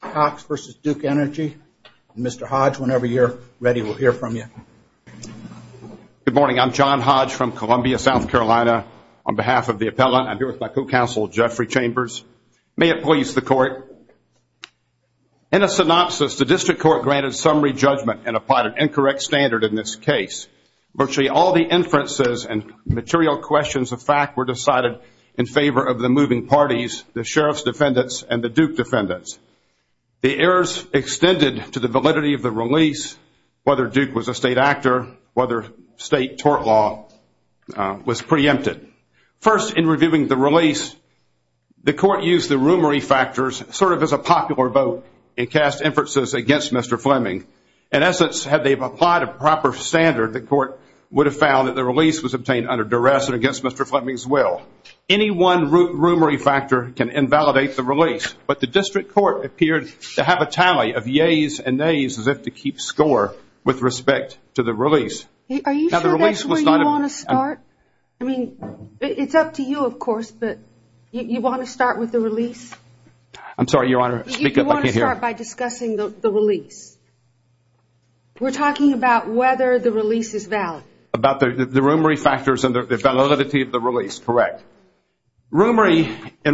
Cox v. Duke Energy. Mr. Hodge, whenever you're ready, we'll hear from you. Good morning. I'm John Hodge from Columbia, South Carolina. On behalf of the appellant, I'm here with my co-counsel, Jeffrey Chambers. May it please the court, in a synopsis, the district court granted summary judgment and applied an incorrect standard in this case. Virtually all the inferences and material questions of fact were decided in favor of the moving parties, the sheriff's defendants and the Duke defendants. The errors extended to the validity of the release, whether Duke was a state actor, whether state tort law was preempted. First, in reviewing the release, the court used the rumory factors sort of as a popular vote and cast inferences against Mr. Fleming. In essence, had they applied a proper standard, the court would have found that the release was obtained under duress and against Mr. Fleming's will. Any one root rumory factor can invalidate the release, but the district court appeared to have a tally of yays and nays as if to keep score with respect to the release. Are you sure that's where you want to start? I mean, it's up to you, of course, but you want to start with the release? I'm sorry, Your Honor, I can't hear. You want to start by discussing the release. We're talking about whether the release is valid. About the rumory factors and the validity of the release, correct. In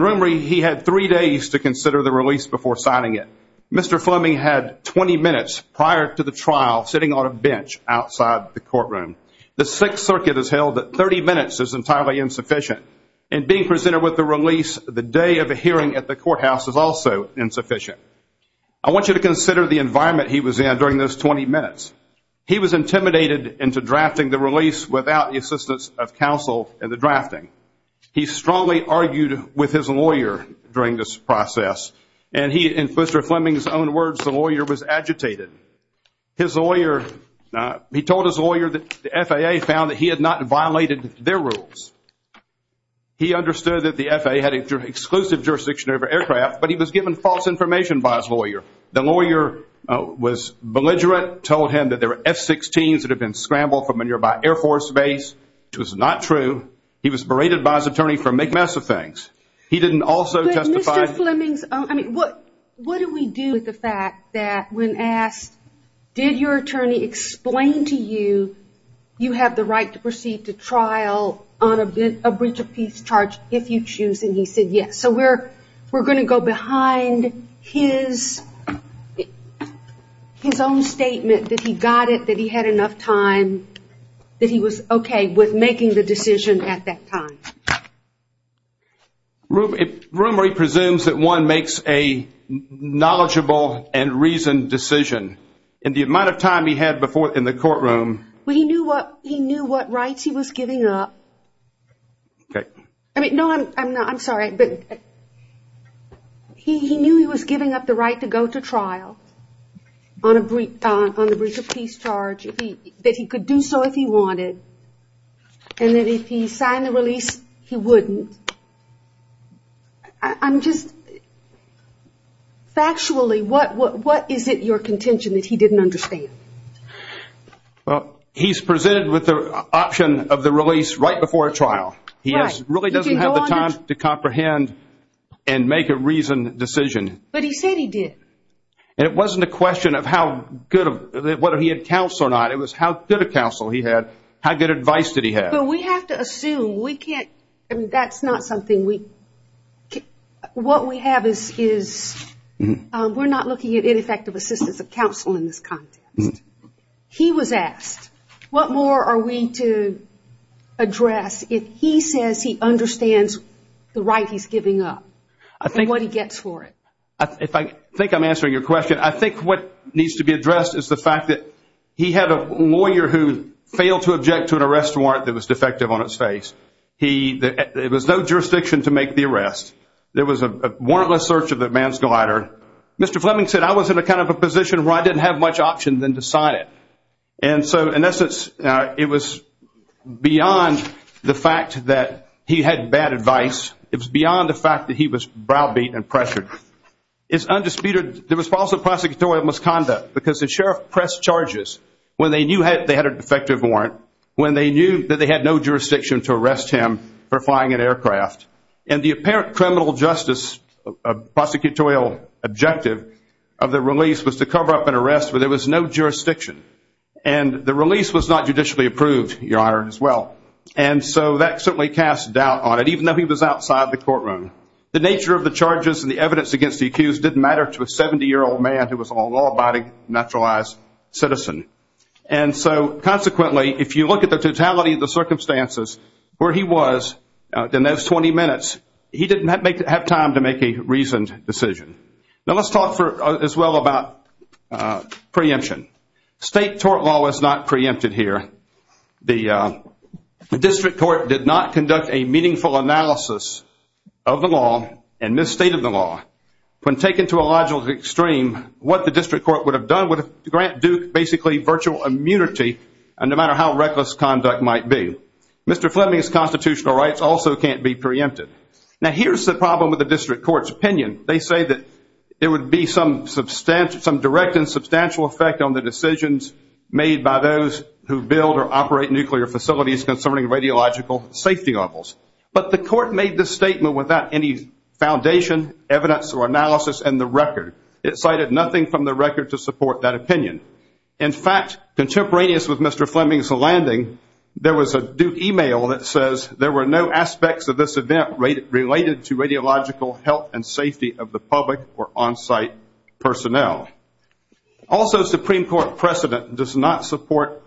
rumory, he had three days to consider the release before signing it. Mr. Fleming had 20 minutes prior to the trial sitting on a bench outside the courtroom. The Sixth Circuit has held that 30 minutes is entirely insufficient. And being presented with the release the day of the hearing at the courthouse is also insufficient. I want you to consider the environment he was in during those 20 minutes. He was intimidated into drafting the release without the assistance of counsel in the drafting. He strongly argued with his lawyer during this process. And he, in Mr. Fleming's own words, the lawyer was agitated. His lawyer, he told his lawyer that the FAA found that he had not violated their rules. He understood that the FAA had an exclusive jurisdiction over aircraft, but he was given false information by his lawyer. The lawyer was belligerent, told him that there were F-16s that had been scrambled from a nearby Air Force base, which was not true. He was berated by his attorney for a big mess of things. He didn't also testify. What do we do with the fact that when asked, did your attorney explain to you you have the right to proceed to trial on a breach of peace charge if you choose? And he said yes. So we're going to go behind his own statement that he got it, that he had enough time, that he was okay with making the decision at that time. Rumery presumes that one makes a knowledgeable and reasoned decision. In the amount of time he had in the courtroom. No, I'm sorry. He knew he was giving up the right to go to trial on a breach of peace charge, that he could do so if he wanted. And that if he signed the release, he wouldn't. Factually, what is it, your contention, that he didn't understand? He's presented with the option of the release right before a trial. He really doesn't have the time to comprehend and make a reasoned decision. But he said he did. It wasn't a question of whether he had counsel or not, it was how good a counsel he had, how good advice did he have. But we have to assume, that's not something we, what we have is, we're not looking at ineffective assistance of counsel in this context. He was asked, what more are we to address if he says he understands the right he's giving up and what he gets for it? I think I'm answering your question. I think what needs to be addressed is the fact that he had a lawyer who failed to object to an arrest warrant that was defective on its face. There was no jurisdiction to make the arrest. There was a warrantless search of the man's glider. Mr. Fleming said, I was in a kind of a position where I didn't have much option than to sign it. And so, in essence, it was beyond the fact that he had bad advice. It was beyond the fact that he was browbeat and pressured. It's undisputed, there was also prosecutorial misconduct because the sheriff pressed charges when they knew they had a defective warrant, when they knew that they had no jurisdiction to arrest him for flying an aircraft. And the apparent criminal justice prosecutorial objective of the release was to cover up an arrest where there was no jurisdiction. And the release was not judicially approved, Your Honor, as well. And so that certainly cast doubt on it, even though he was outside the courtroom. The nature of the charges and the evidence against the accused didn't matter to a 70-year-old man who was a law-abiding, naturalized citizen. And so, consequently, if you look at the totality of the circumstances, where he was in those 20 minutes, he didn't have time to make a reasoned decision. Now let's talk, as well, about preemption. State tort law was not preempted here. The district court did not conduct a meaningful analysis of the law and this state of the law. When taken to a logical extreme, what the district court would have done would grant Duke basically virtual immunity, no matter how reckless conduct might be. Mr. Fleming's constitutional rights also can't be preempted. Now here's the problem with the district court's opinion. They say that there would be some direct and substantial effect on the decisions made by those who build or operate nuclear facilities concerning radiological safety levels. But the court made this statement without any foundation, evidence, or analysis in the record. It cited nothing from the record to support that opinion. In fact, contemporaneous with Mr. Fleming's landing, there was a Duke email that says there were no aspects of this event related to radiological health and safety of the public or on-site personnel. Also, Supreme Court precedent does not support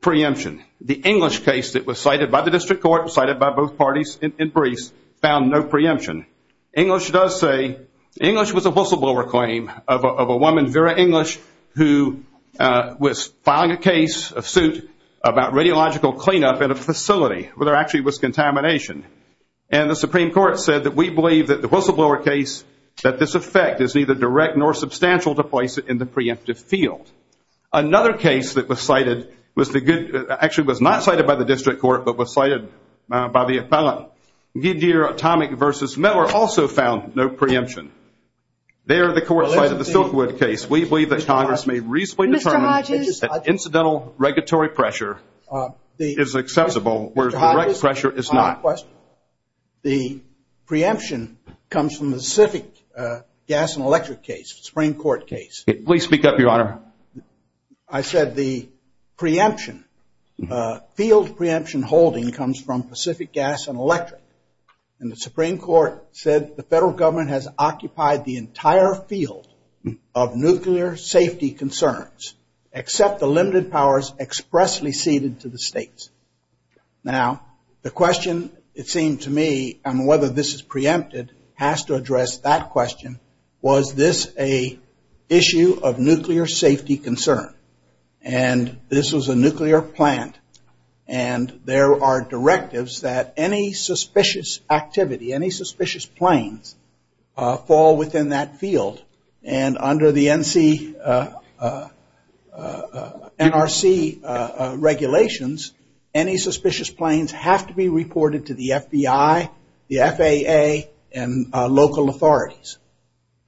preemption. The English case that was cited by the district court, cited by both parties in briefs, found no preemption. English does say, English was a whistleblower claim of a woman, Vera English, who was filing a case, a suit, about radiological cleanup at a facility where there actually was contamination. And the Supreme Court said that we believe that the whistleblower case, that this effect is neither direct nor substantial to place it in the preemptive field. Another case that was cited, actually was not cited by the district court, but was cited by the appellant, Gideon Atomic versus Miller, also found no preemption. There, the court cited the Silkwood case. We believe that Congress may reasonably determine that incidental regulatory pressure is accessible, whereas direct pressure is not. The preemption comes from the Pacific gas and electric case, Supreme Court case. Please speak up, Your Honor. I said the preemption, field preemption holding comes from Pacific gas and electric. And the Supreme Court said the federal government has occupied the entire field of nuclear safety concerns, except the limited powers expressly ceded to the states. Now, the question, it seemed to me, on whether this is preempted, has to address that question. Was this an issue of nuclear safety concern? And this was a nuclear plant. And there are directives that any suspicious activity, any suspicious planes, fall within that field. And under the NRC regulations, any suspicious planes have to be reported to the FBI, the FAA, and local authorities.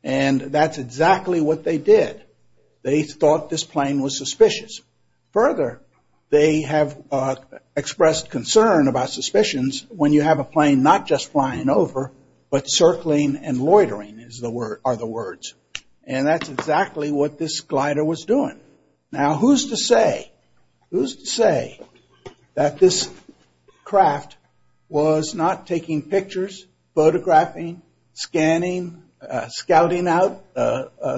And that's exactly what they did. They thought this plane was suspicious. Further, they have expressed concern about suspicions when you have a plane not just flying over, but circling and loitering are the words. And that's exactly what this glider was doing. Now, who's to say that this craft was not taking pictures, photographing, scanning, scouting out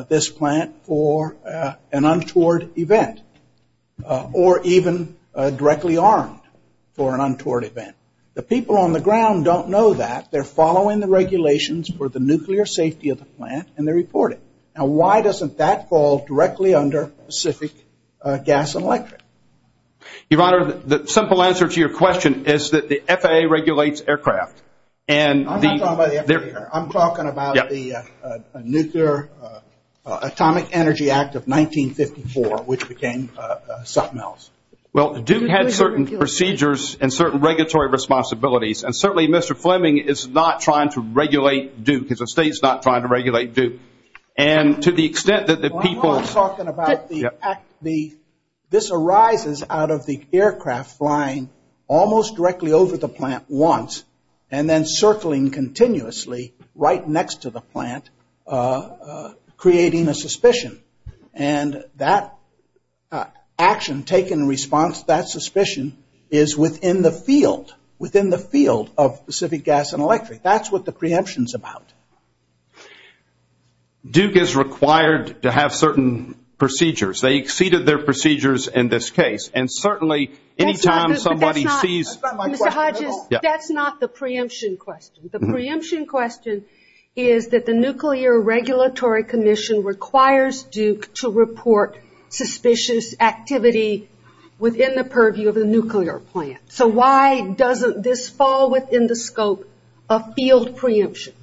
this plant for an untoward event, or even directly armed for an untoward event? The people on the ground don't know that. They're following the regulations for the nuclear safety of the plant, and they report it. Now, why doesn't that fall directly under Pacific Gas and Electric? Your Honor, the simple answer to your question is that the FAA regulates aircraft. I'm not talking about the FAA. I'm talking about the Nuclear Atomic Energy Act of 1954, which became something else. Well, Duke had certain procedures and certain regulatory responsibilities, and certainly Mr. Fleming is not trying to regulate Duke. His estate is not trying to regulate Duke. This arises out of the aircraft flying almost directly over the plant once and then circling continuously right next to the plant, creating a suspicion. And that action taken in response to that suspicion is within the field, of Pacific Gas and Electric. That's what the preemption is about. Duke is required to have certain procedures. They exceeded their procedures in this case, and certainly any time somebody sees Mr. Hodges, that's not the preemption question. The preemption question is that the Nuclear Regulatory Commission requires Duke to report suspicious activity within the purview of the nuclear plant. So why doesn't this fall within the scope of field preemption?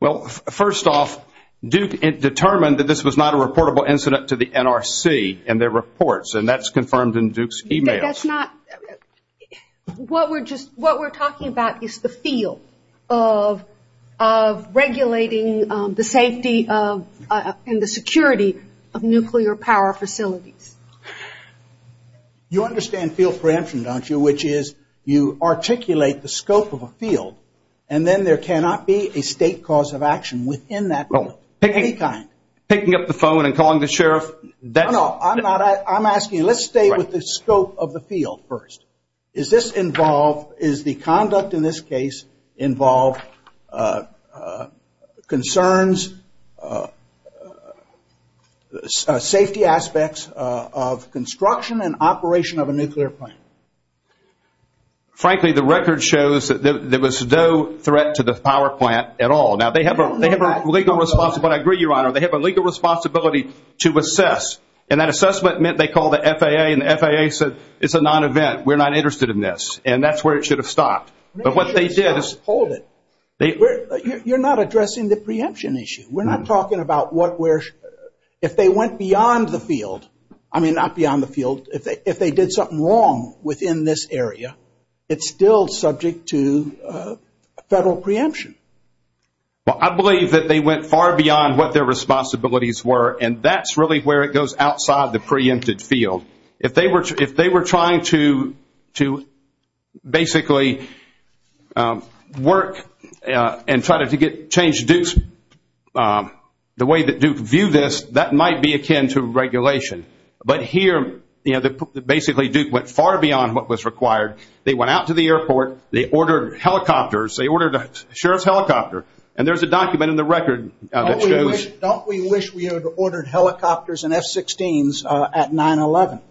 Well, first off, Duke determined that this was not a reportable incident to the NRC and their reports, and that's confirmed in Duke's e-mails. What we're talking about is the field of regulating the safety and the security of nuclear power facilities. You understand field preemption, don't you, which is you articulate the scope of a field, and then there cannot be a state cause of action within that field of any kind. No, no, I'm asking you, let's stay with the scope of the field first. Is this involved, is the conduct in this case involved concerns, safety aspects of construction and operation of a nuclear plant? Frankly, the record shows that there was no threat to the power plant at all. Now, they have a legal responsibility, but I agree, Your Honor, they have a legal responsibility to assess, and that assessment meant they called the FAA, and the FAA said it's a non-event, we're not interested in this, and that's where it should have stopped. But what they did is hold it. You're not addressing the preemption issue. We're not talking about if they went beyond the field, I mean not beyond the field, if they did something wrong within this area, it's still subject to federal preemption. Well, I believe that they went far beyond what their responsibilities were, and that's really where it goes outside the preempted field. If they were trying to basically work and try to change Duke's, the way that Duke viewed this, that might be akin to regulation. But here, you know, basically Duke went far beyond what was required. They went out to the airport. They ordered helicopters. They ordered a sheriff's helicopter, and there's a document in the record that shows. Don't we wish we had ordered helicopters and F-16s at 9-11?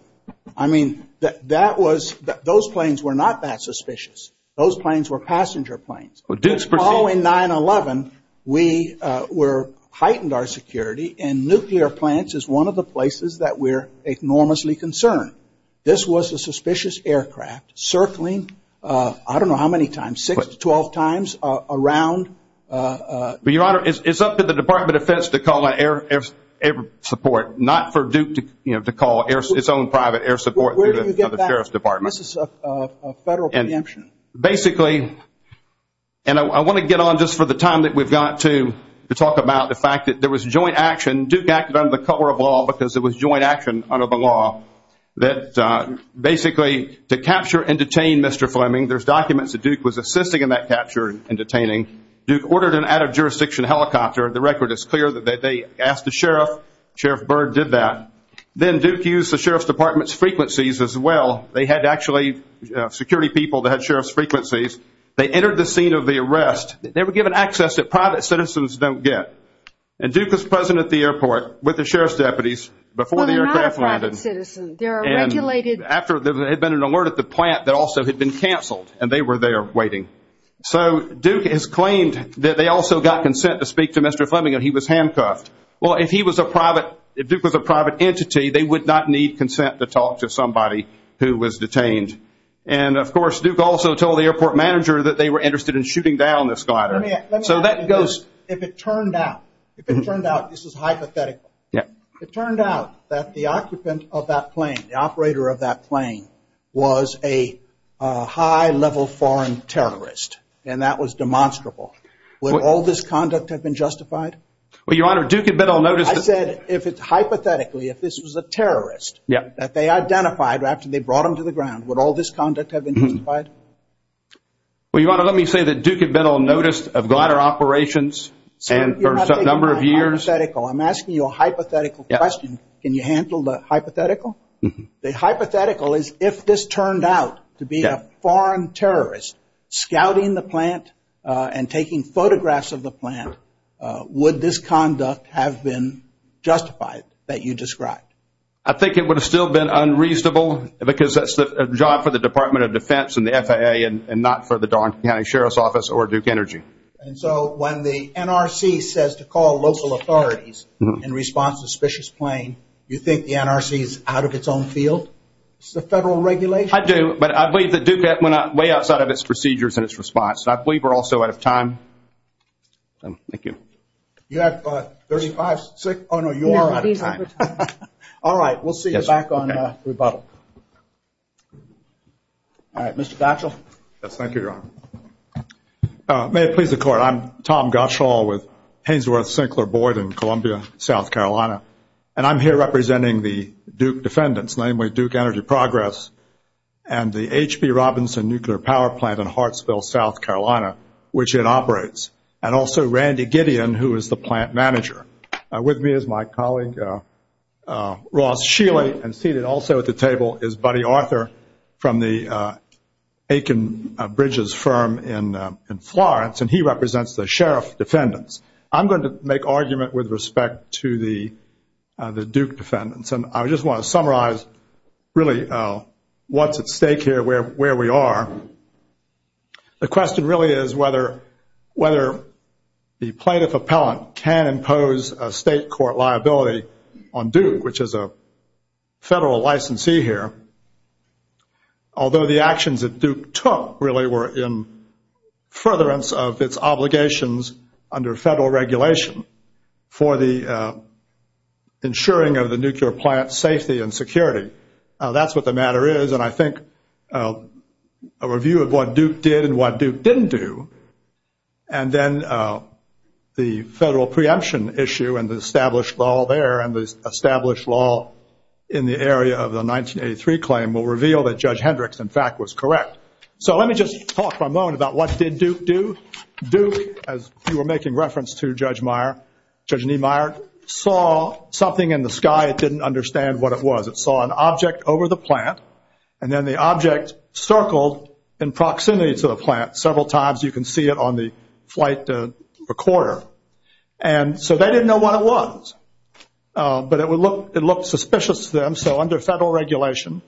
I mean, that was, those planes were not that suspicious. Those planes were passenger planes. Well, in 9-11, we heightened our security, and nuclear plants is one of the places that we're enormously concerned. This was a suspicious aircraft circling, I don't know how many times, six to 12 times around. But, Your Honor, it's up to the Department of Defense to call air support, not for Duke to call its own private air support through the sheriff's department. Where do you get that? This is a federal preemption. Basically, and I want to get on just for the time that we've got to talk about the fact that there was joint action. Duke acted under the color of law because there was joint action under the law. Basically, to capture and detain Mr. Fleming, there's documents that Duke was assisting in that capture and detaining. Duke ordered an out-of-jurisdiction helicopter. The record is clear that they asked the sheriff. Sheriff Byrd did that. Then Duke used the sheriff's department's frequencies as well. They had actually security people that had sheriff's frequencies. They entered the scene of the arrest. They were given access that private citizens don't get. And Duke was present at the airport with the sheriff's deputies before the aircraft landed. Well, they're not a private citizen. They're a regulated. After there had been an alert at the plant that also had been canceled, and they were there waiting. So Duke has claimed that they also got consent to speak to Mr. Fleming, and he was handcuffed. Well, if he was a private – if Duke was a private entity, they would not need consent to talk to somebody who was detained. And, of course, Duke also told the airport manager that they were interested in shooting down this glider. So that goes – Let me ask you this. If it turned out – if it turned out – this is hypothetical. Yeah. It turned out that the occupant of that plane, the operator of that plane, was a high-level foreign terrorist, and that was demonstrable. Would all this conduct have been justified? Well, Your Honor, Duke had been on notice – I said if it's hypothetically, if this was a terrorist that they identified after they brought him to the ground, would all this conduct have been justified? Well, Your Honor, let me say that Duke had been on notice of glider operations for a number of years. I'm asking you a hypothetical question. Can you handle the hypothetical? The hypothetical is if this turned out to be a foreign terrorist scouting the plant and taking photographs of the plant, would this conduct have been justified that you described? I think it would have still been unreasonable because that's a job for the Department of Defense and the FAA and not for the Dawson County Sheriff's Office or Duke Energy. And so when the NRC says to call local authorities in response to a suspicious plane, you think the NRC is out of its own field? Is this a federal regulation? I do, but I believe that Duke went way outside of its procedures and its response. And I believe we're also out of time. Thank you. You have 35 seconds. Oh, no, you are out of time. All right, we'll see you back on rebuttal. All right, Mr. Gottschall. Yes, thank you, Your Honor. May it please the Court, I'm Tom Gottschall with Hainsworth-Sinclair Board in Columbia, South Carolina. And I'm here representing the Duke defendants, namely Duke Energy Progress and the H.P. Robinson Nuclear Power Plant in Hartsville, South Carolina, which it operates, and also Randy Gideon, who is the plant manager. With me is my colleague, Ross Shealy. And seated also at the table is Buddy Arthur from the Aiken Bridges firm in Florence, and he represents the sheriff defendants. I'm going to make argument with respect to the Duke defendants. And I just want to summarize really what's at stake here, where we are. The question really is whether the plaintiff appellant can impose a state court liability on Duke, which is a federal licensee here. Although the actions that Duke took really were in furtherance of its obligations under federal regulation for the ensuring of the nuclear plant's safety and security. That's what the matter is. And I think a review of what Duke did and what Duke didn't do, and then the federal preemption issue and the established law there and the established law in the area of the 1983 claim will reveal that Judge Hendricks, in fact, was correct. So let me just talk for a moment about what did Duke do. Duke, as you were making reference to, Judge Meyer, Judge Niemeyer, saw something in the sky. It didn't understand what it was. It saw an object over the plant, and then the object circled in proximity to the plant several times. You can see it on the flight recorder. And so they didn't know what it was, but it looked suspicious to them. So under federal regulation,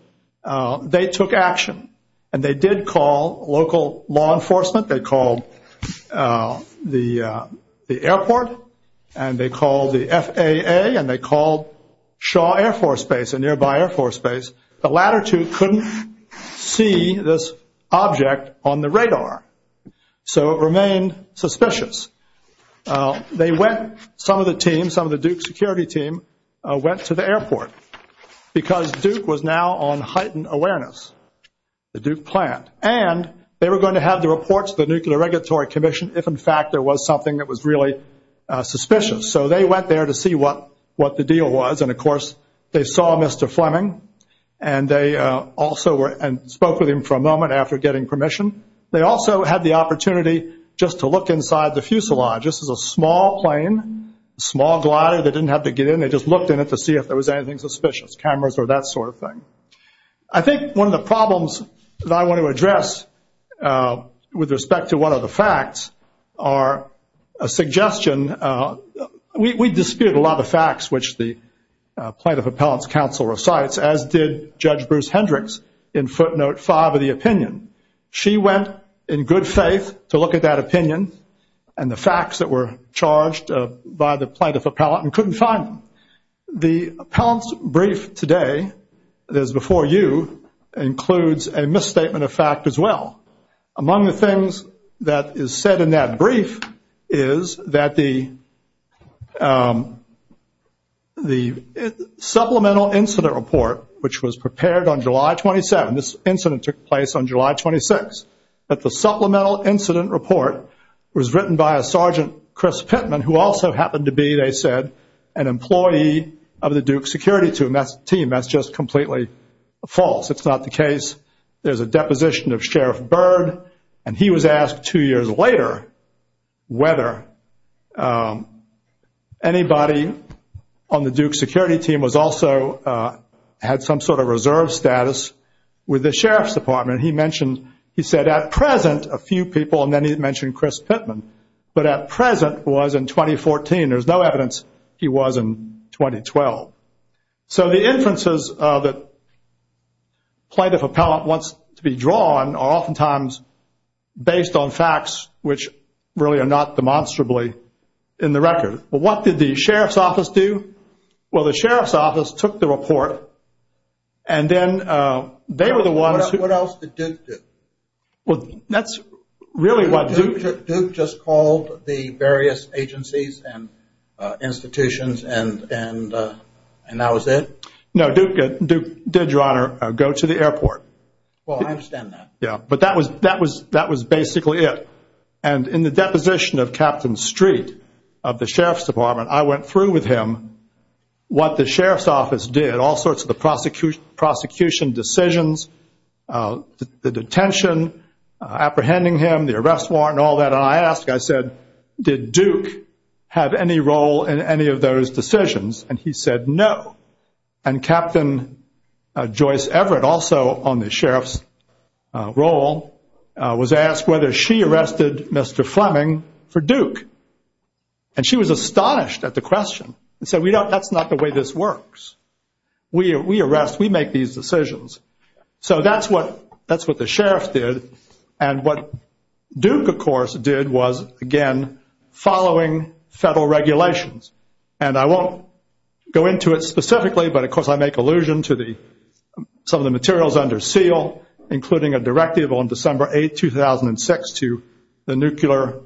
they took action, and they did call local law enforcement. They called the airport, and they called the FAA, and they called Shaw Air Force Base, a nearby Air Force Base. The latter two couldn't see this object on the radar, so it remained suspicious. They went, some of the team, some of the Duke security team went to the airport because Duke was now on heightened awareness, the Duke plant. And they were going to have the report to the Nuclear Regulatory Commission if, in fact, there was something that was really suspicious. So they went there to see what the deal was. And, of course, they saw Mr. Fleming, and they also spoke with him for a moment after getting permission. They also had the opportunity just to look inside the fuselage. This is a small plane, a small glider. They didn't have to get in. They just looked in it to see if there was anything suspicious, cameras or that sort of thing. I think one of the problems that I want to address with respect to one of the facts are a suggestion. We dispute a lot of the facts which the Plaintiff Appellant's counsel recites, as did Judge Bruce Hendricks in footnote five of the opinion. She went in good faith to look at that opinion and the facts that were charged by the Plaintiff Appellant and couldn't find them. The Appellant's brief today, as before you, includes a misstatement of fact as well. Among the things that is said in that brief is that the supplemental incident report, which was prepared on July 27th, this incident took place on July 26th, that the supplemental incident report was written by a Sergeant Chris Pittman, who also happened to be, they said, an employee of the Duke security team. That's just completely false. It's not the case. There's a deposition of Sheriff Byrd, and he was asked two years later whether anybody on the Duke security team also had some sort of reserve status with the Sheriff's Department. He mentioned, he said, at present, a few people, and then he mentioned Chris Pittman. But at present was in 2014. There's no evidence he was in 2012. So the inferences that Plaintiff Appellant wants to be drawn are oftentimes based on facts which really are not demonstrably in the record. What did the Sheriff's Office do? Well, the Sheriff's Office took the report, and then they were the ones who... What else did Duke do? Well, that's really what... Duke just called the various agencies and institutions, and that was it? No, Duke did, Your Honor, go to the airport. Well, I understand that. Yeah, but that was basically it. And in the deposition of Captain Street of the Sheriff's Department, I went through with him what the Sheriff's Office did, all sorts of the prosecution decisions, the detention, apprehending him, the arrest warrant, all that. And I asked, I said, did Duke have any role in any of those decisions? And he said no. And Captain Joyce Everett, also on the Sheriff's role, was asked whether she arrested Mr. Fleming for Duke. And she was astonished at the question and said, that's not the way this works. We arrest, we make these decisions. So that's what the Sheriff did. And what Duke, of course, did was, again, following federal regulations. And I won't go into it specifically, but, of course, I make allusion to some of the materials under SEAL, including a directive on December 8, 2006, to the nuclear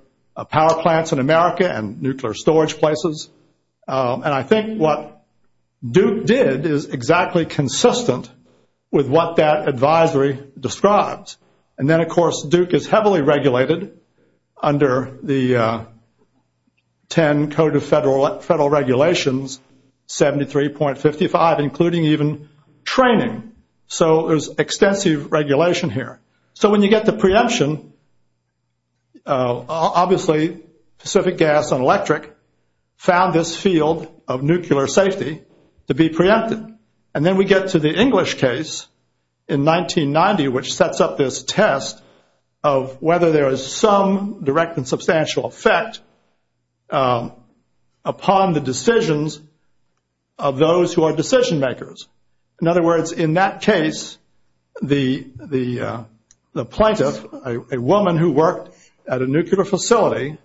power plants in America and nuclear storage places. And I think what Duke did is exactly consistent with what that advisory describes. And then, of course, Duke is heavily regulated under the 10 Code of Federal Regulations, 73.55, including even training. So there's extensive regulation here. So when you get to preemption, obviously Pacific Gas and Electric found this field of nuclear safety to be preempted. And then we get to the English case in 1990, which sets up this test of whether there is some direct and substantial effect upon the decisions of those who are decision makers. In other words, in that case, the plaintiff, a woman who worked at a nuclear facility,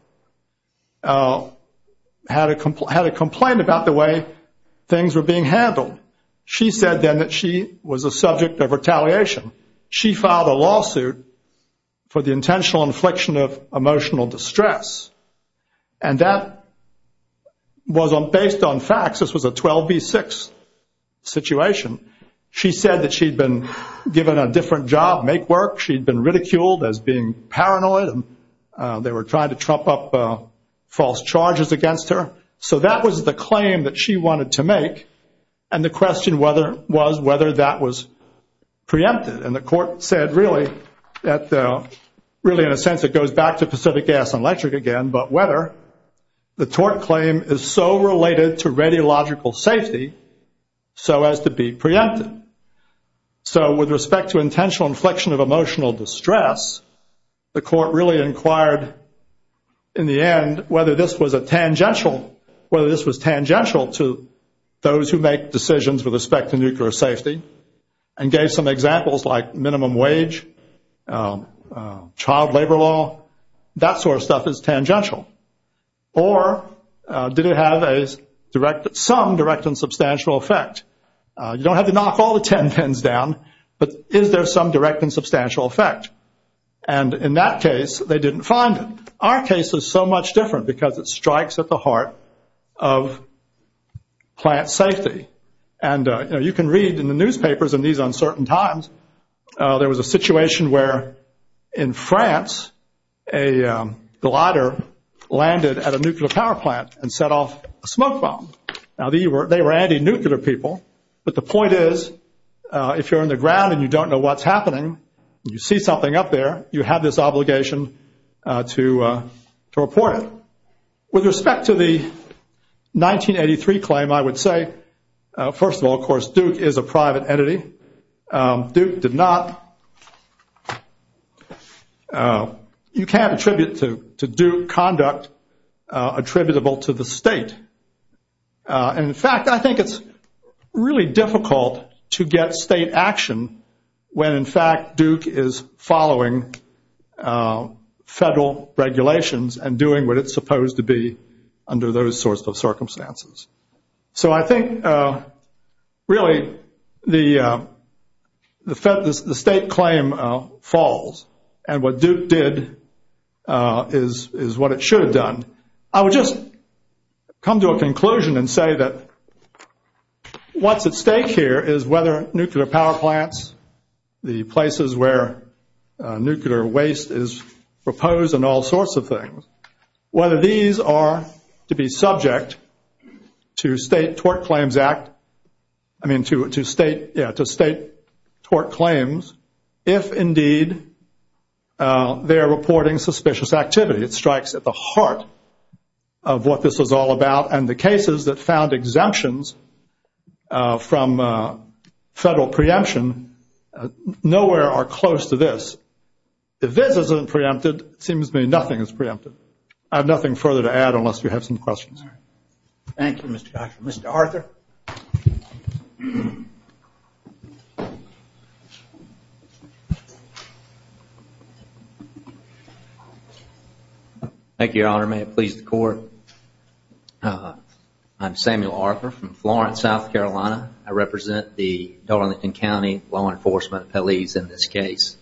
had a complaint about the way things were being handled. She said then that she was a subject of retaliation. She filed a lawsuit for the intentional infliction of emotional distress. And that was based on facts. This was a 12 v. 6 situation. She said that she'd been given a different job, make work. She'd been ridiculed as being paranoid. They were trying to trump up false charges against her. So that was the claim that she wanted to make. And the question was whether that was preempted. And the court said really in a sense it goes back to Pacific Gas and Electric again, but whether the tort claim is so related to radiological safety so as to be preempted. So with respect to intentional inflection of emotional distress, the court really inquired in the end whether this was tangential to those who make decisions with respect to nuclear safety and gave some examples like minimum wage, child labor law. That sort of stuff is tangential. Or did it have some direct and substantial effect? You don't have to knock all the ten pens down, but is there some direct and substantial effect? And in that case, they didn't find it. Our case is so much different because it strikes at the heart of plant safety. And you can read in the newspapers in these uncertain times, there was a situation where in France a glider landed at a nuclear power plant and set off a smoke bomb. Now they were anti-nuclear people, but the point is if you're in the ground and you don't know what's happening, you see something up there, you have this obligation to report it. With respect to the 1983 claim, I would say, first of all, of course, Duke is a private entity. Duke did not. You can't attribute to Duke conduct attributable to the state. And, in fact, I think it's really difficult to get state action when, in fact, Duke is following federal regulations and doing what it's supposed to be under those sorts of circumstances. So I think, really, the state claim falls, and what Duke did is what it should have done. I would just come to a conclusion and say that what's at stake here is whether nuclear power plants, the places where nuclear waste is proposed and all sorts of things, whether these are to be subject to state tort claims if, indeed, they're reporting suspicious activity. It strikes at the heart of what this is all about, and the cases that found exemptions from federal preemption nowhere are close to this. If this isn't preempted, it seems to me nothing is preempted. I have nothing further to add unless you have some questions. Thank you, Mr. Joshua. Mr. Arthur? Thank you, Your Honor. May it please the Court. I'm Samuel Arthur from Florence, South Carolina. I represent the Darlington County Law Enforcement Appellees in this case.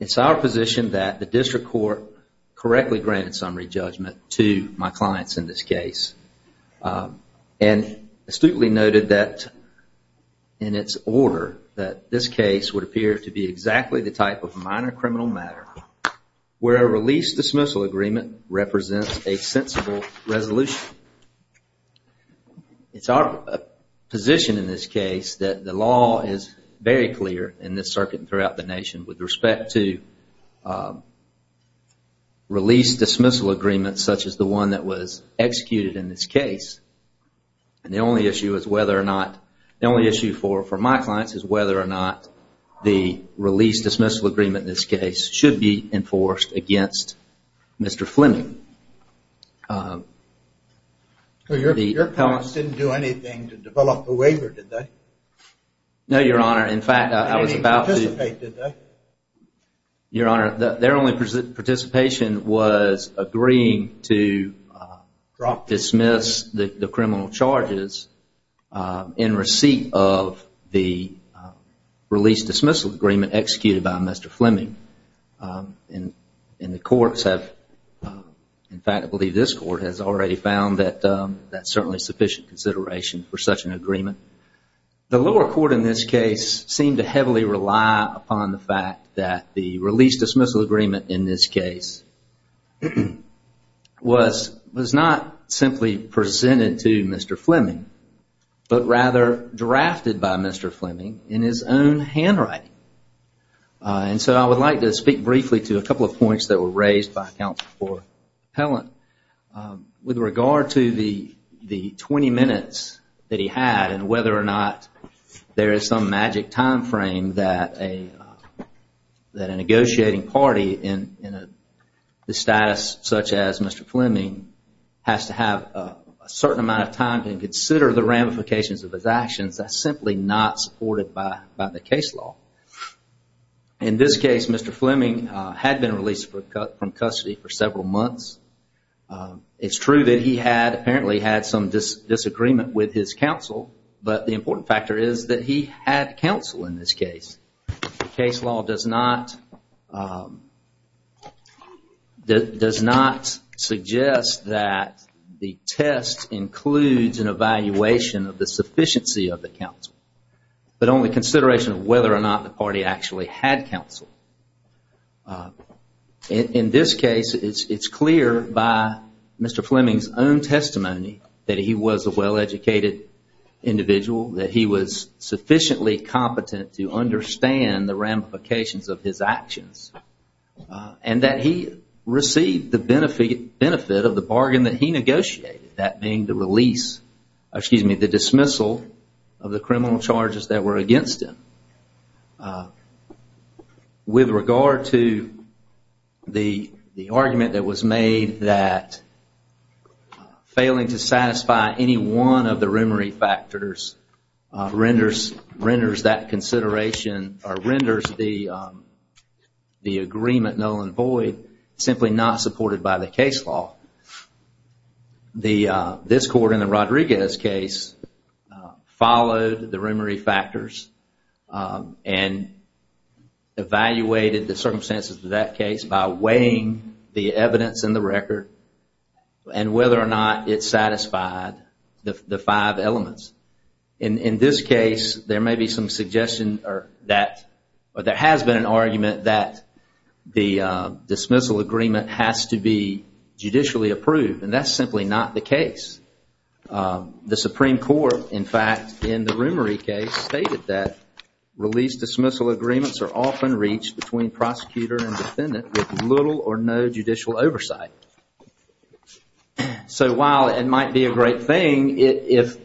It's our position that the district court correctly granted summary judgment to my clients in this case and astutely noted that in its order that this case would appear to be exactly the type of minor criminal matter where a release-dismissal agreement represents a sensible resolution. It's our position in this case that the law is very clear in this circuit and throughout the nation with respect to release-dismissal agreements such as the one that was executed in this case. The only issue for my clients is whether or not the release-dismissal agreement in this case should be enforced against Mr. Fleming. Your clients didn't do anything to develop a waiver, did they? No, Your Honor. In fact, I was about to... They didn't participate, did they? Your Honor, their only participation was agreeing to dismiss the criminal charges in receipt of the release-dismissal agreement executed by Mr. Fleming. And the courts have... In fact, I believe this court has already found that that's certainly sufficient consideration for such an agreement. The lower court in this case seemed to heavily rely upon the fact that the release-dismissal agreement in this case was not simply presented to Mr. Fleming, but rather drafted by Mr. Fleming in his own handwriting. And so I would like to speak briefly to a couple of points that were raised by Counsel for Appellant with regard to the 20 minutes that he had and whether or not there is some magic time frame that a negotiating party in a status such as Mr. Fleming has to have a certain amount of time to consider the ramifications of his actions that's simply not supported by the case law. In this case, Mr. Fleming had been released from custody for several months. It's true that he had apparently had some disagreement with his counsel, but the important factor is that he had counsel in this case. Case law does not suggest that the test includes an evaluation of the sufficiency of the counsel, but only consideration of whether or not the party actually had counsel. In this case, it's clear by Mr. Fleming's own testimony that he was a well-educated individual, that he was sufficiently competent to understand the ramifications of his actions, and that he received the benefit of the bargain that he negotiated, that being the dismissal of the criminal charges that were against him. With regard to the argument that was made that failing to satisfy any one of the remory factors renders that consideration or renders the agreement null and void simply not supported by the case law, this court in the Rodriguez case followed the remory factors and evaluated the circumstances of that case by weighing the evidence in the record and whether or not it satisfied the five elements. In this case, there may be some suggestion or there has been an argument that the dismissal agreement has to be judicially approved, and that's simply not the case. The Supreme Court, in fact, in the remory case, stated that release-dismissal agreements are often reached between prosecutor and defendant with little or no judicial oversight. So while it might be a great thing if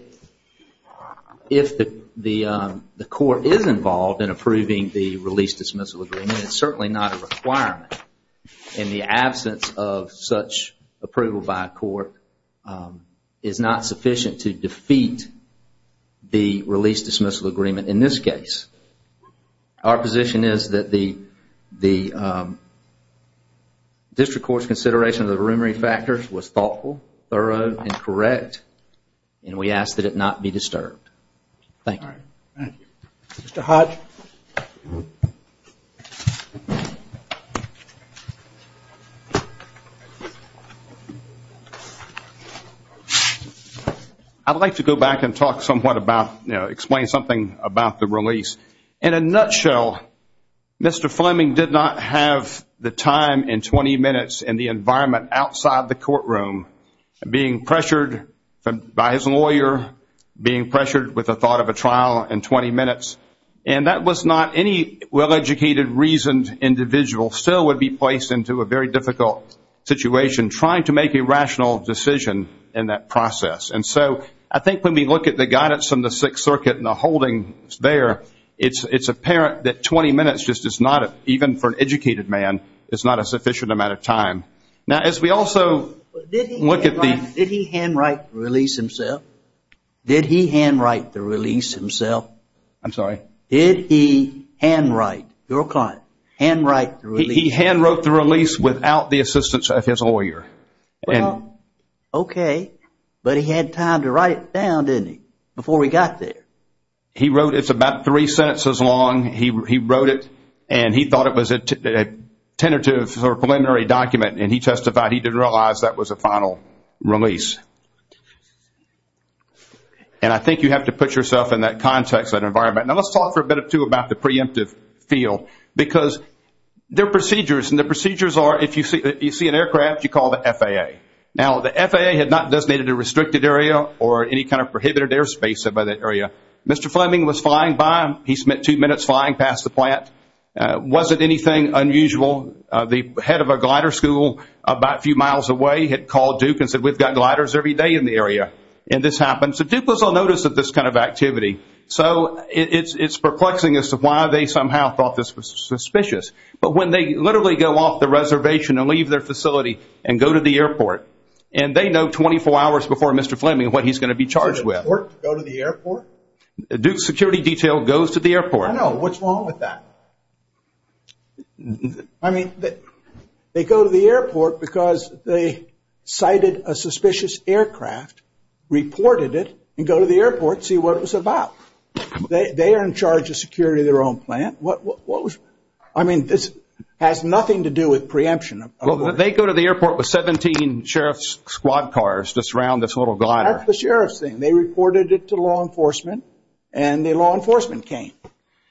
the court is involved in approving the release-dismissal agreement, it's certainly not a requirement, and the absence of such approval by a court is not sufficient to defeat the release-dismissal agreement in this case. Our position is that the district court's consideration of the remory factors was thoughtful, thorough, and correct, and we ask that it not be disturbed. Thank you. Mr. Hodge. I'd like to go back and talk somewhat about, you know, explain something about the release. In a nutshell, Mr. Fleming did not have the time and 20 minutes and the environment outside the courtroom, being pressured by his lawyer, being pressured with the thought of a trial in 20 minutes, and that was not any well-educated, reasoned individual still would be placed into a very difficult situation trying to make a rational decision in that process. And so I think when we look at the guidance from the Sixth Circuit and the holdings there, it's apparent that 20 minutes just is not, even for an educated man, is not a sufficient amount of time. Now, as we also look at the... Did he handwrite the release himself? Did he handwrite the release himself? I'm sorry? Did he handwrite, your client, handwrite the release? He handwrote the release without the assistance of his lawyer. Well, okay, but he had time to write it down, didn't he, before he got there? He wrote it. It's about three sentences long. He wrote it, and he thought it was a tentative or preliminary document, and he testified he didn't realize that was a final release. And I think you have to put yourself in that context, that environment. Now, let's talk for a bit or two about the preemptive field because there are procedures, and the procedures are if you see an aircraft, you call the FAA. Now, the FAA had not designated a restricted area or any kind of prohibited airspace by that area. Mr. Fleming was flying by. He spent two minutes flying past the plant. Was it anything unusual? The head of a glider school about a few miles away had called Duke and said we've got gliders every day in the area, and this happened. So Duke was on notice of this kind of activity. So it's perplexing as to why they somehow thought this was suspicious. But when they literally go off the reservation and leave their facility and go to the airport, and they know 24 hours before Mr. Fleming what he's going to be charged with. Do they work to go to the airport? Duke's security detail goes to the airport. I know. What's wrong with that? I mean, they go to the airport because they sighted a suspicious aircraft, reported it, and go to the airport to see what it was about. They are in charge of security of their own plant. I mean, this has nothing to do with preemption. Well, they go to the airport with 17 sheriff's squad cars just around this little glider. That's the sheriff's thing. They reported it to law enforcement, and the law enforcement came.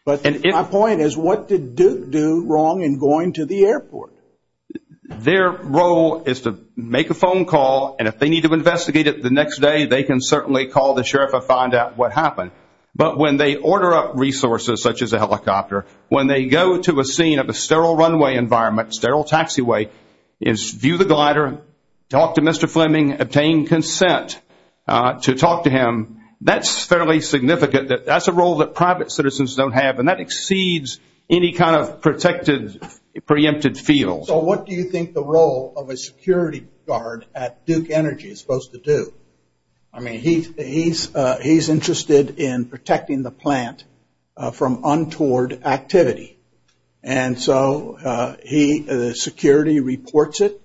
But my point is what did Duke do wrong in going to the airport? Their role is to make a phone call, and if they need to investigate it the next day, they can certainly call the sheriff and find out what happened. But when they order up resources such as a helicopter, when they go to a scene of a sterile runway environment, sterile taxiway, view the glider, talk to Mr. Fleming, obtain consent to talk to him, that's fairly significant. That's a role that private citizens don't have, and that exceeds any kind of protected, preempted field. So what do you think the role of a security guard at Duke Energy is supposed to do? I mean, he's interested in protecting the plant from untoward activity, and so he, the security, reports it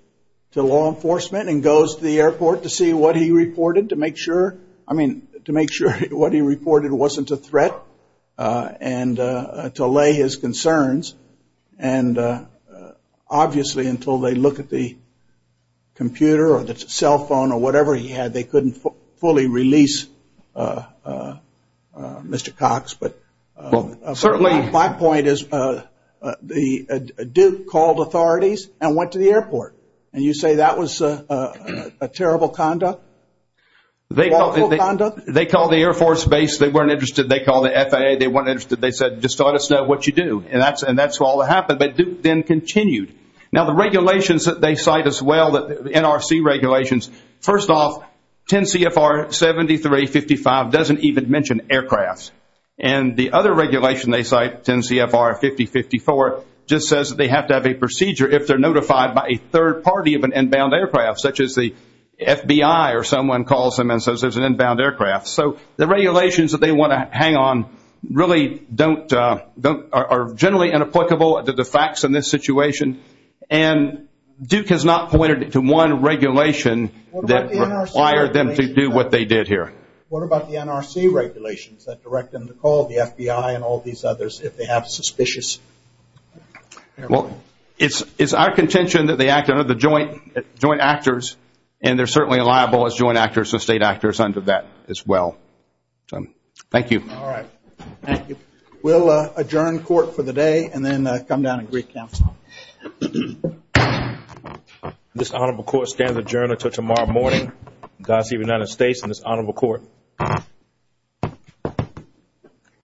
to law enforcement and goes to the airport to see what he reported to make sure, I mean, to make sure what he reported wasn't a threat and to lay his concerns. And obviously until they look at the computer or the cell phone or whatever he had, they couldn't fully release Mr. Cox. My point is Duke called authorities and went to the airport, and you say that was a terrible conduct? They called the Air Force base. They weren't interested. They called the FAA. They weren't interested. They said, just let us know what you do, and that's all that happened. But Duke then continued. Now, the regulations that they cite as well, the NRC regulations, first off, 10 CFR 7355 doesn't even mention aircrafts. And the other regulation they cite, 10 CFR 5054, just says that they have to have a procedure if they're notified by a third party of an inbound aircraft, such as the FBI or someone calls them and says there's an inbound aircraft. So the regulations that they want to hang on really don't, are generally inapplicable to the facts in this situation, and Duke has not pointed to one regulation that required them to do what they did here. What about the NRC regulations that direct them to call the FBI and all these others if they have suspicious? Well, it's our contention that they act under the joint actors, and they're certainly liable as joint actors and state actors under that as well. Thank you. All right. Thank you. We'll adjourn court for the day and then come down and recounsel. This honorable court stands adjourned until tomorrow morning. Godspeed, United States, and this honorable court.